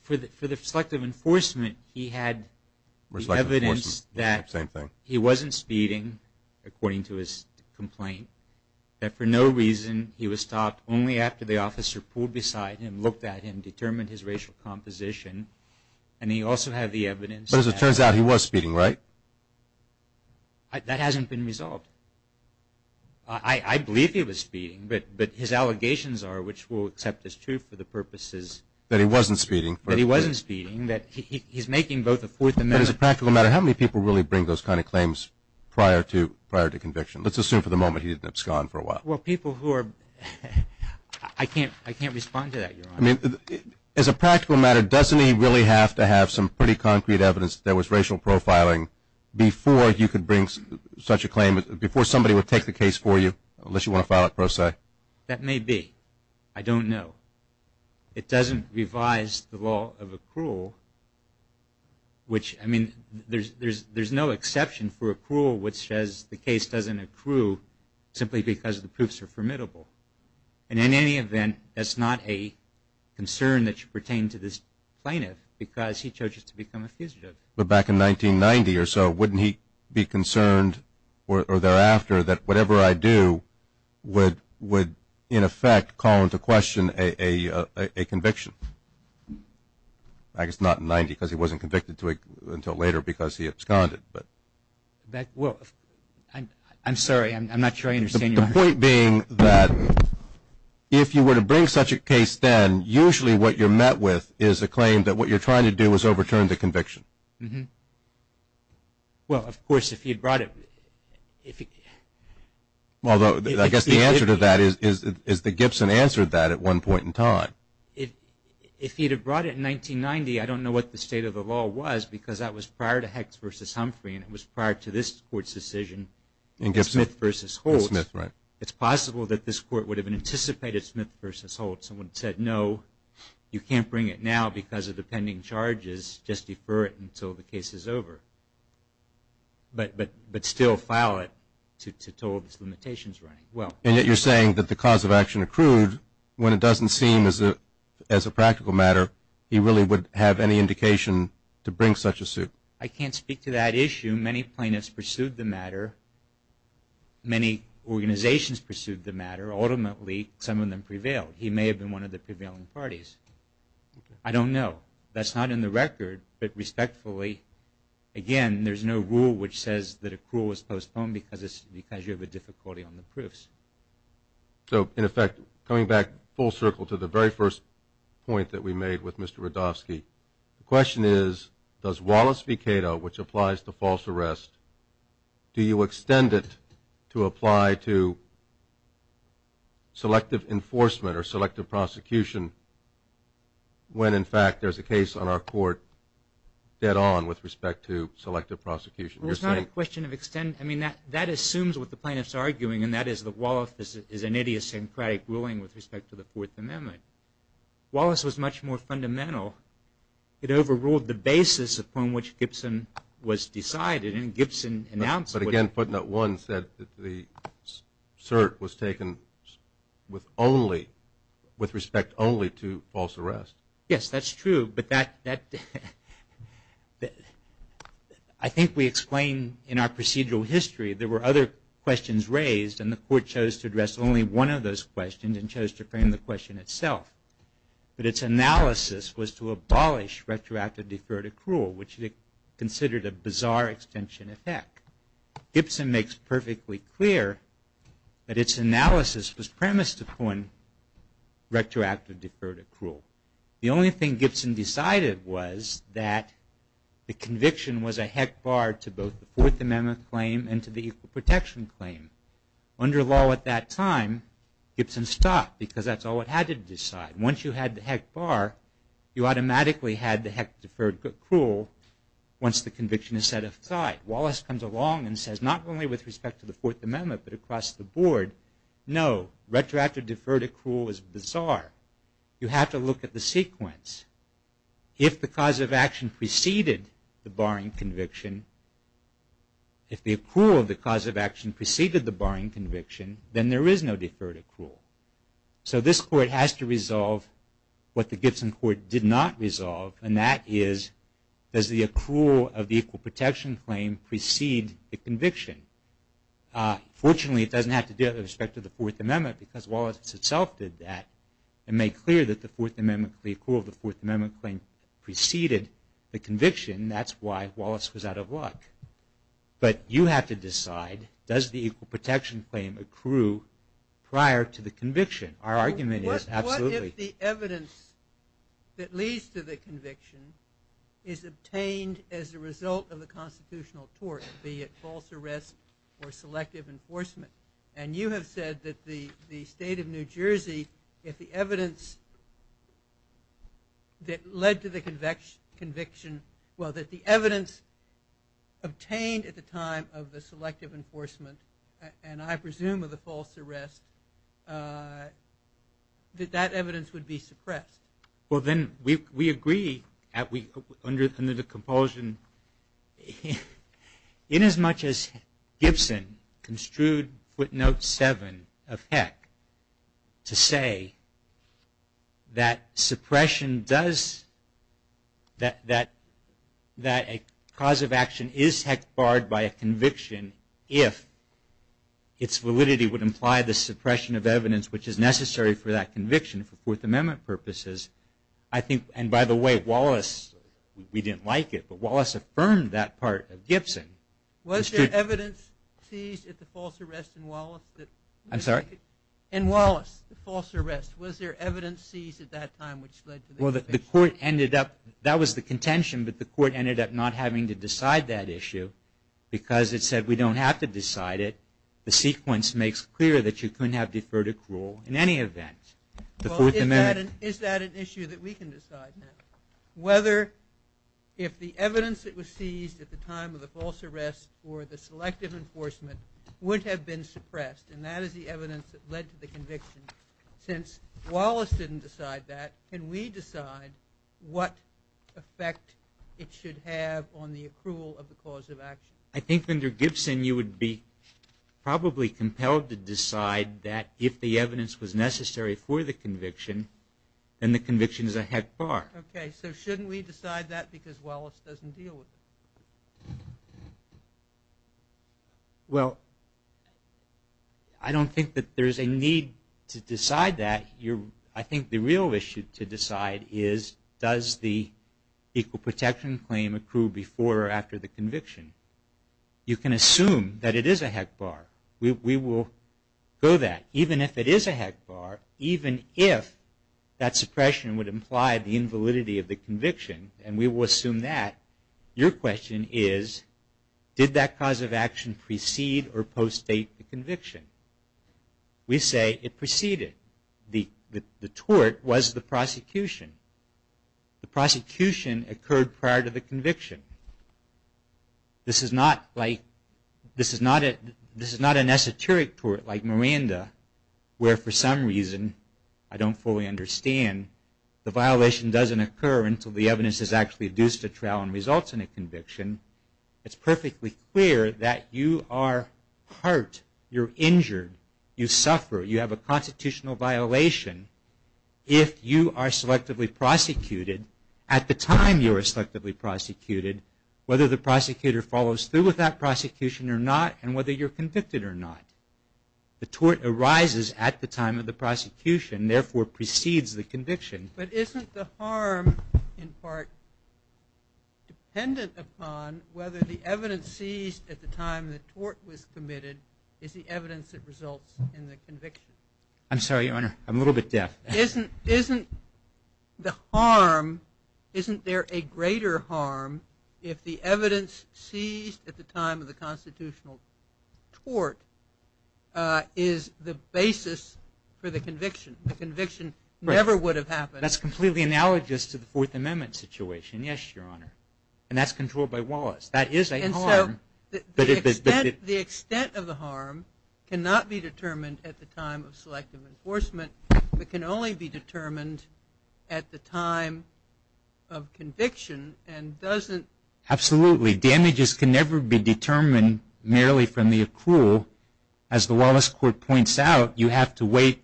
For the selective enforcement, he had the evidence that he wasn't speeding, according to his complaint, that for no reason he was stopped only after the officer pulled beside him, looked at him, determined his racial composition, and he also had the evidence that But as it turns out, he was speeding, right? That hasn't been resolved. I believe he was speeding, but his allegations are, which will accept as true for the purposes That he wasn't speeding. That he wasn't speeding, that he's making both a forth amendment. But as a practical matter, how many people really bring those kind of claims prior to conviction? Let's assume for the moment he didn't abscond for a while. Well, people who are – I can't respond to that, Your Honor. I mean, as a practical matter, doesn't he really have to have some pretty concrete evidence that was racial profiling before you could bring such a claim, before somebody would take the case for you, unless you want to file it pro se? That may be. I don't know. It doesn't revise the law of accrual, which, I mean, there's no exception for accrual which says the case doesn't accrue simply because the proofs are formidable. And in any event, that's not a concern that should pertain to this plaintiff because he charges to become a fugitive. But back in 1990 or so, wouldn't he be concerned, or thereafter, that whatever I do would, in effect, call into question a conviction? I guess not in 1990 because he wasn't convicted until later because he absconded. Well, I'm sorry. I'm not sure I understand your question. The point being that if you were to bring such a case then, usually what you're met with is a claim that what you're trying to do is overturn the conviction. Well, of course, if he had brought it. Although I guess the answer to that is that Gibson answered that at one point in time. If he had brought it in 1990, I don't know what the state of the law was because that was prior to Hecht v. Humphrey and it was prior to this Court's decision in Smith v. Holtz. It's possible that this Court would have anticipated Smith v. Holtz and would have said, no, you can't bring it now because of the pending charges. Just defer it until the case is over. But still file it to total these limitations running. And yet you're saying that the cause of action accrued when it doesn't seem as a practical matter he really would have any indication to bring such a suit. I can't speak to that issue. Many plaintiffs pursued the matter. Many organizations pursued the matter. Ultimately, some of them prevailed. He may have been one of the prevailing parties. I don't know. That's not in the record. But respectfully, again, there's no rule which says that accrual is postponed because you have a difficulty on the proofs. So, in effect, coming back full circle to the very first point that we made with Mr. Radofsky, the question is, does Wallace v. Cato, which applies to false arrest, do you extend it to apply to selective enforcement or selective prosecution when, in fact, there's a case on our court dead on with respect to selective prosecution? It's not a question of extent. I mean, that assumes what the plaintiffs are arguing, and that is that Wallace is an idiosyncratic ruling with respect to the Fourth Amendment. Wallace was much more fundamental. It overruled the basis upon which Gibson was decided. And Gibson announced it. But, again, putting it once, the cert was taken with respect only to false arrest. Yes, that's true. But I think we explained in our procedural history there were other questions raised, and the court chose to address only one of those questions and chose to frame the question itself. But its analysis was to abolish retroactive deferred accrual, which it considered a bizarre extension of HECC. Gibson makes perfectly clear that its analysis was premised upon retroactive deferred accrual. The only thing Gibson decided was that the conviction was a HECC bar to both the Fourth Amendment claim and to the equal protection claim. Under law at that time, Gibson stopped because that's all it had to decide. Once you had the HECC bar, you automatically had the HECC deferred accrual once the conviction is set aside. Wallace comes along and says, not only with respect to the Fourth Amendment, but across the board, no, retroactive deferred accrual is bizarre. You have to look at the sequence. If the cause of action preceded the barring conviction, if the accrual of the cause of action preceded the barring conviction, then there is no deferred accrual. So this court has to resolve what the Gibson court did not resolve, and that is, does the accrual of the equal protection claim precede the conviction? Fortunately, it doesn't have to do with respect to the Fourth Amendment because Wallace itself did that and made clear that the Fourth Amendment claim preceded the conviction. That's why Wallace was out of luck. But you have to decide, does the equal protection claim accrue prior to the conviction? Our argument is absolutely. What if the evidence that leads to the conviction is obtained as a result of the constitutional tort, be it false arrest or selective enforcement? And you have said that the state of New Jersey, if the evidence that led to the conviction, well, that the evidence obtained at the time of the selective enforcement, and I presume of the false arrest, that that evidence would be suppressed. Well, then we agree under the compulsion, inasmuch as Gibson construed footnote 7 of Heck to say that suppression does, that a cause of action is heck barred by a conviction if its validity would imply the suppression of evidence which is necessary for that conviction for Fourth Amendment purposes. I think, and by the way, Wallace, we didn't like it, but Wallace affirmed that part of Gibson. Was there evidence seized at the false arrest in Wallace? I'm sorry? In Wallace, the false arrest, was there evidence seized at that time which led to the conviction? Well, the court ended up, that was the contention, but the court ended up not having to decide that issue because it said we don't have to decide it. The sequence makes clear that you couldn't have deferred accrual in any event before the amendment. Well, is that an issue that we can decide now? Whether if the evidence that was seized at the time of the false arrest or the selective enforcement would have been suppressed, and that is the evidence that led to the conviction. Since Wallace didn't decide that, can we decide what effect it should have on the accrual of the cause of action? I think under Gibson you would be probably compelled to decide that if the evidence was necessary for the conviction, then the conviction is a heck barred. Okay, so shouldn't we decide that because Wallace doesn't deal with it? Well, I don't think that there's a need to decide that. I think the real issue to decide is, does the equal protection claim accrue before or after the conviction? You can assume that it is a heck barred. We will go that. Even if it is a heck barred, even if that suppression would imply the invalidity of the conviction, and we will assume that, your question is, did that cause of action precede or postdate the conviction? We say it preceded. The tort was the prosecution. The prosecution occurred prior to the conviction. This is not an esoteric tort like Miranda, where for some reason, I don't fully understand, the violation doesn't occur until the evidence is actually adduced to trial and results in a conviction. It's perfectly clear that you are hurt, you're injured, you suffer, you have a constitutional violation if you are selectively prosecuted at the time you were selectively prosecuted, whether the prosecutor follows through with that prosecution or not, and whether you're convicted or not. The tort arises at the time of the prosecution, therefore precedes the conviction. But isn't the harm in part dependent upon whether the evidence seized at the time the tort was committed is the evidence that results in the conviction? I'm sorry, Your Honor. I'm a little bit deaf. Isn't the harm, isn't there a greater harm if the evidence seized at the time of the constitutional tort is the basis for the conviction? The conviction never would have happened. That's completely analogous to the Fourth Amendment situation. Yes, Your Honor. And that's controlled by Wallace. That is a harm. The extent of the harm cannot be determined at the time of selective enforcement, but can only be determined at the time of conviction and doesn't Absolutely. Damages can never be determined merely from the accrual. As the Wallace Court points out, you have to wait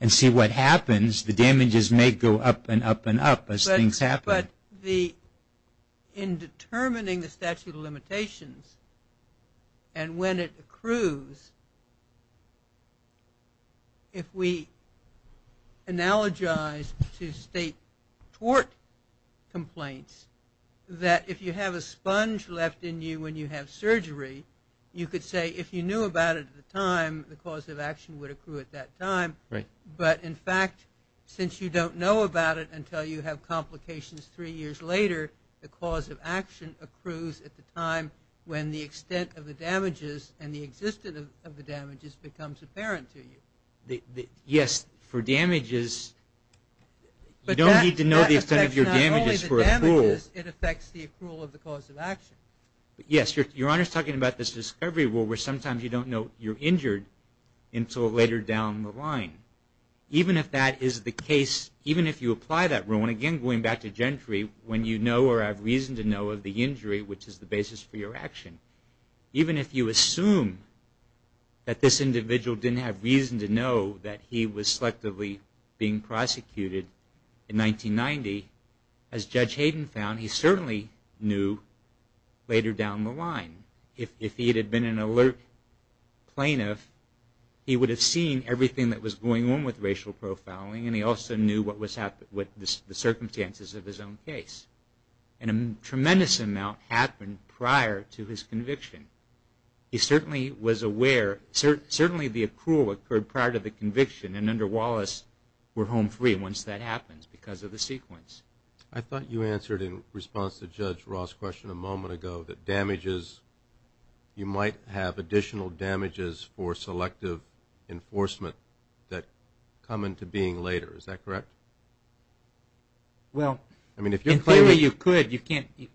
and see what happens. The damages may go up and up and up as things happen. But in determining the statute of limitations and when it accrues, if we analogize to state tort complaints that if you have a sponge left in you when you have surgery, you could say if you knew about it at the time, the cause of action would accrue at that time. Right. But, in fact, since you don't know about it until you have complications three years later, the cause of action accrues at the time when the extent of the damages and the existence of the damages becomes apparent to you. Yes. For damages, you don't need to know the extent of your damages for accrual. But that affects not only the damages, it affects the accrual of the cause of action. Yes. Your Honor is talking about this discovery rule where sometimes you don't know you're injured until later down the line. Even if that is the case, even if you apply that rule, and, again, going back to gentry, when you know or have reason to know of the injury, which is the basis for your action, even if you assume that this individual didn't have reason to know that he was selectively being prosecuted in 1990, as Judge Hayden found, he certainly knew later down the line. If he had been an alert plaintiff, he would have seen everything that was going on with racial profiling, and he also knew what was happening with the circumstances of his own case. And a tremendous amount happened prior to his conviction. He certainly was aware. Certainly the accrual occurred prior to the conviction, and under Wallace we're home free once that happens because of the sequence. I thought you answered in response to Judge Ross' question a moment ago that damages, you might have additional damages for selective enforcement that come into being later. Is that correct? Well, in theory you could,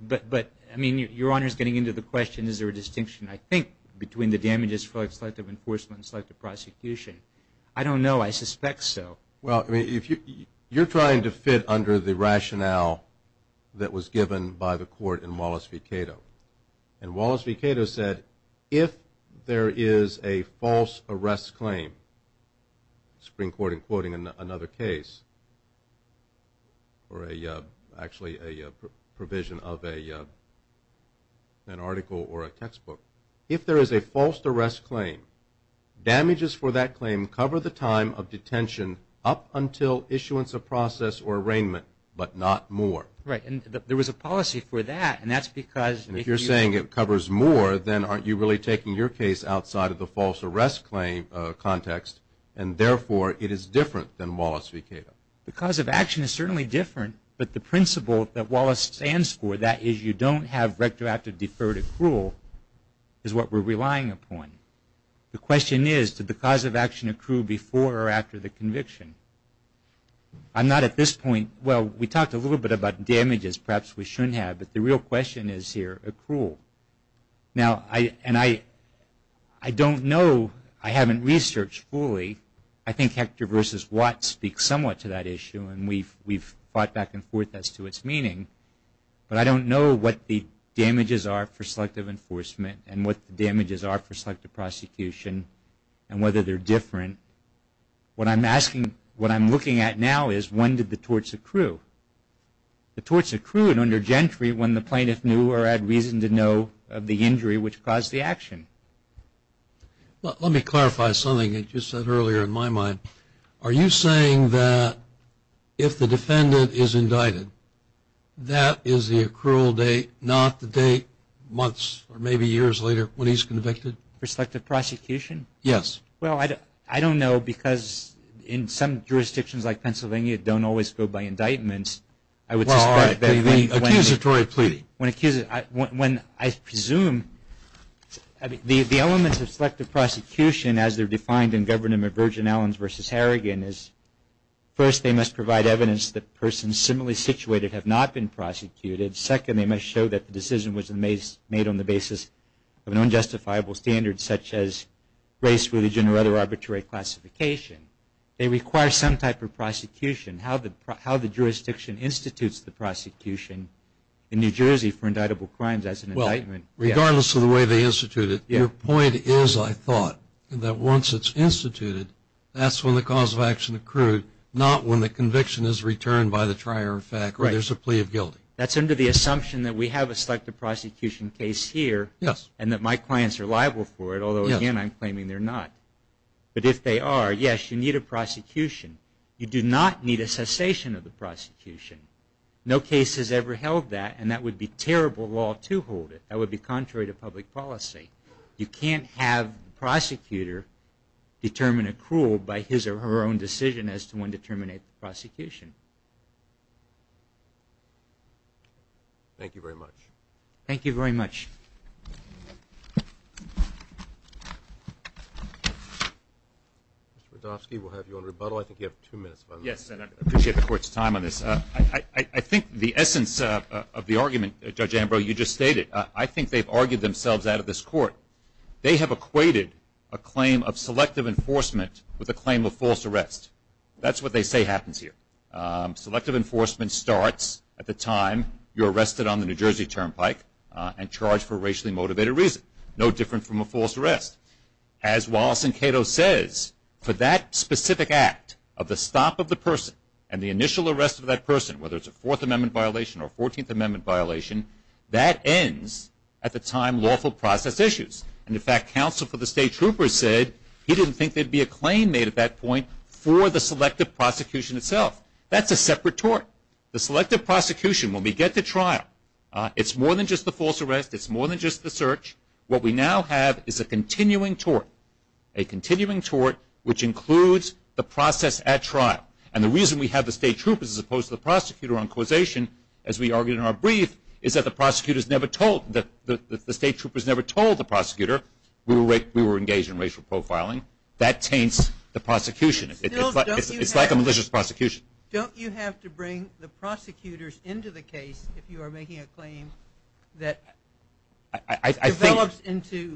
but your Honor is getting into the question, is there a distinction, I think, between the damages for selective enforcement and selective prosecution. I don't know. I suspect so. Well, you're trying to fit under the rationale that was given by the court in Wallace v. Cato, and Wallace v. Cato said if there is a false arrest claim, Supreme Court in quoting another case, or actually a provision of an article or a textbook, if there is a false arrest claim, damages for that claim cover the time of detention up until issuance of process or arraignment, but not more. Right. And there was a policy for that, and that's because if you... And if you're saying it covers more, then aren't you really taking your case outside of the false arrest claim context, and therefore it is different than Wallace v. Cato? The cause of action is certainly different, but the principle that Wallace stands for, that is you don't have retroactive deferred accrual, is what we're relying upon. The question is, did the cause of action accrue before or after the conviction? I'm not at this point... Well, we talked a little bit about damages, perhaps we shouldn't have, but the real question is here, accrual. Now, and I don't know, I haven't researched fully, I think Hector v. Watt speaks somewhat to that issue, and we've fought back and forth as to its meaning, but I don't know what the damages are for selective enforcement and what the damages are for selective prosecution and whether they're different. What I'm asking, what I'm looking at now is, when did the torts accrue? The torts accrued under gentry when the plaintiff knew or had reason to know of the injury which caused the action. Let me clarify something that you said earlier in my mind. Are you saying that if the defendant is indicted, that is the accrual date, not the date months or maybe years later when he's convicted? For selective prosecution? Yes. Well, I don't know because in some jurisdictions like Pennsylvania, it don't always go by indictments. Well, all right. Accusatory plea. I presume the elements of selective prosecution, as they're defined in Government of Virgin Islands v. Harrigan, is first they must provide evidence that persons similarly situated have not been prosecuted. Second, they must show that the decision was made on the basis of an unjustifiable standard such as race, religion, or other arbitrary classification. They require some type of prosecution. How the jurisdiction institutes the prosecution in New Jersey for indictable crimes, that's an indictment. Regardless of the way they institute it, your point is, I thought, that once it's instituted, that's when the cause of action accrued, not when the conviction is returned by the trier of fact or there's a plea of guilty. That's under the assumption that we have a selective prosecution case here and that my clients are liable for it, although, again, I'm claiming they're not. But if they are, yes, you need a prosecution. You do not need a cessation of the prosecution. No case has ever held that, and that would be terrible law to hold it. That would be contrary to public policy. You can't have the prosecutor determine accrual by his or her own decision as to when to terminate the prosecution. Thank you very much. Thank you very much. Mr. Radofsky, we'll have you on rebuttal. I think you have two minutes. Yes, and I appreciate the Court's time on this. I think the essence of the argument, Judge Ambrose, you just stated, I think they've argued themselves out of this Court. They have equated a claim of selective enforcement with a claim of false arrest. That's what they say happens here. Selective enforcement starts at the time you're arrested on the New Jersey turnpike and charged for racially motivated reason, no different from a false arrest. As Wallace and Cato says, for that specific act of the stop of the person and the initial arrest of that person, whether it's a Fourth Amendment violation or a Fourteenth Amendment violation, that ends at the time lawful process issues. And, in fact, counsel for the state troopers said he didn't think there'd be a claim made at that point for the selective prosecution itself. That's a separate tort. The selective prosecution, when we get to trial, it's more than just the false arrest. It's more than just the search. What we now have is a continuing tort, a continuing tort, which includes the process at trial. And the reason we have the state troopers as opposed to the prosecutor on causation, as we argued in our brief, is that the state troopers never told the prosecutor we were engaged in racial profiling. That taints the prosecution. It's like a malicious prosecution. Don't you have to bring the prosecutors into the case if you are making a claim that develops into selective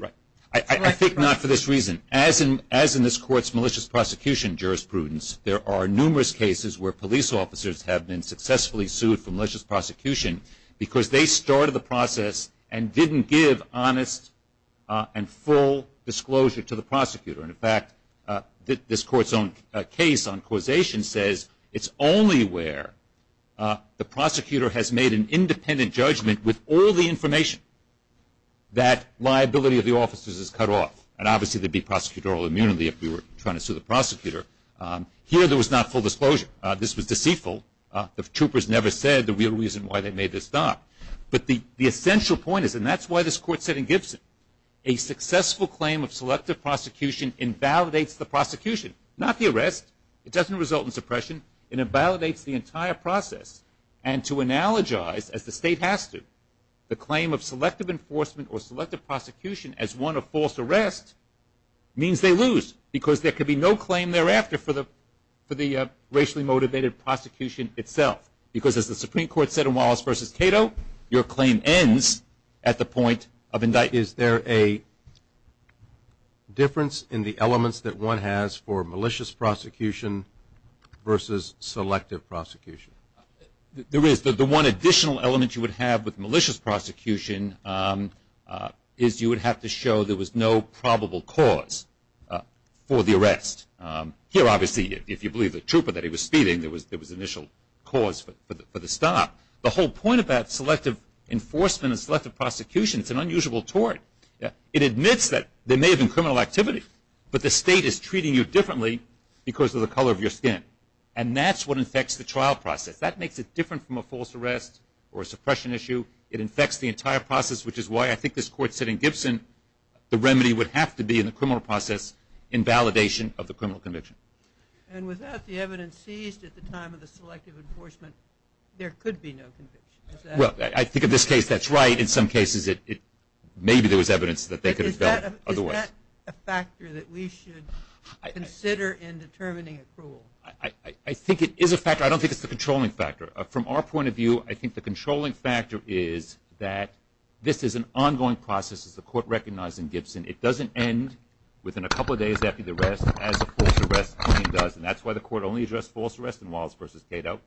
prosecution? I think not for this reason. As in this Court's malicious prosecution jurisprudence, there are numerous cases where police officers have been successfully sued for malicious prosecution because they started the process and didn't give honest and full disclosure to the prosecutor. And, in fact, this Court's own case on causation says it's only where the prosecutor has made an independent judgment with all the information that liability of the officers is cut off. And obviously there would be prosecutorial immunity if we were trying to sue the prosecutor. Here there was not full disclosure. This was deceitful. The troopers never said the real reason why they made this stop. But the essential point is, and that's why this Court said in Gibson, a successful claim of selective prosecution invalidates the prosecution. Not the arrest. It doesn't result in suppression. It invalidates the entire process. And to analogize, as the State has to, the claim of selective enforcement or selective prosecution as one of false arrest means they lose because there could be no claim thereafter for the racially motivated prosecution itself. Because, as the Supreme Court said in Wallace v. Cato, your claim ends at the point of indictment. Is there a difference in the elements that one has for malicious prosecution versus selective prosecution? There is. The one additional element you would have with malicious prosecution is you would have to show there was no probable cause for the arrest. Here, obviously, if you believe the trooper that he was speeding, there was initial cause for the stop. The whole point about selective enforcement and selective prosecution is it's an unusual tort. It admits that there may have been criminal activity, but the State is treating you differently because of the color of your skin. And that's what infects the trial process. That makes it different from a false arrest or a suppression issue. It infects the entire process, which is why I think this Court said in Gibson that the remedy would have to be in the criminal process in validation of the criminal conviction. And without the evidence seized at the time of the selective enforcement, there could be no conviction. Well, I think in this case that's right. In some cases, maybe there was evidence that they could have done otherwise. Is that a factor that we should consider in determining accrual? I think it is a factor. I don't think it's the controlling factor. From our point of view, I think the controlling factor is that this is an ongoing process, as the Court recognized in Gibson. It doesn't end within a couple of days after the arrest as a false arrest claim does, and that's why the Court only addressed false arrest in Wallace v. Cato.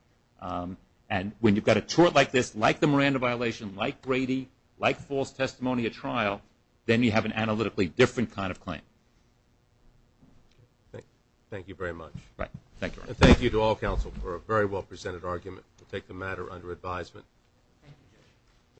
And when you've got a tort like this, like the Miranda violation, like Brady, like false testimony at trial, then you have an analytically different kind of claim. Thank you very much. Thank you. Thank you to all counsel for a very well presented argument. We'll take the matter under advisement.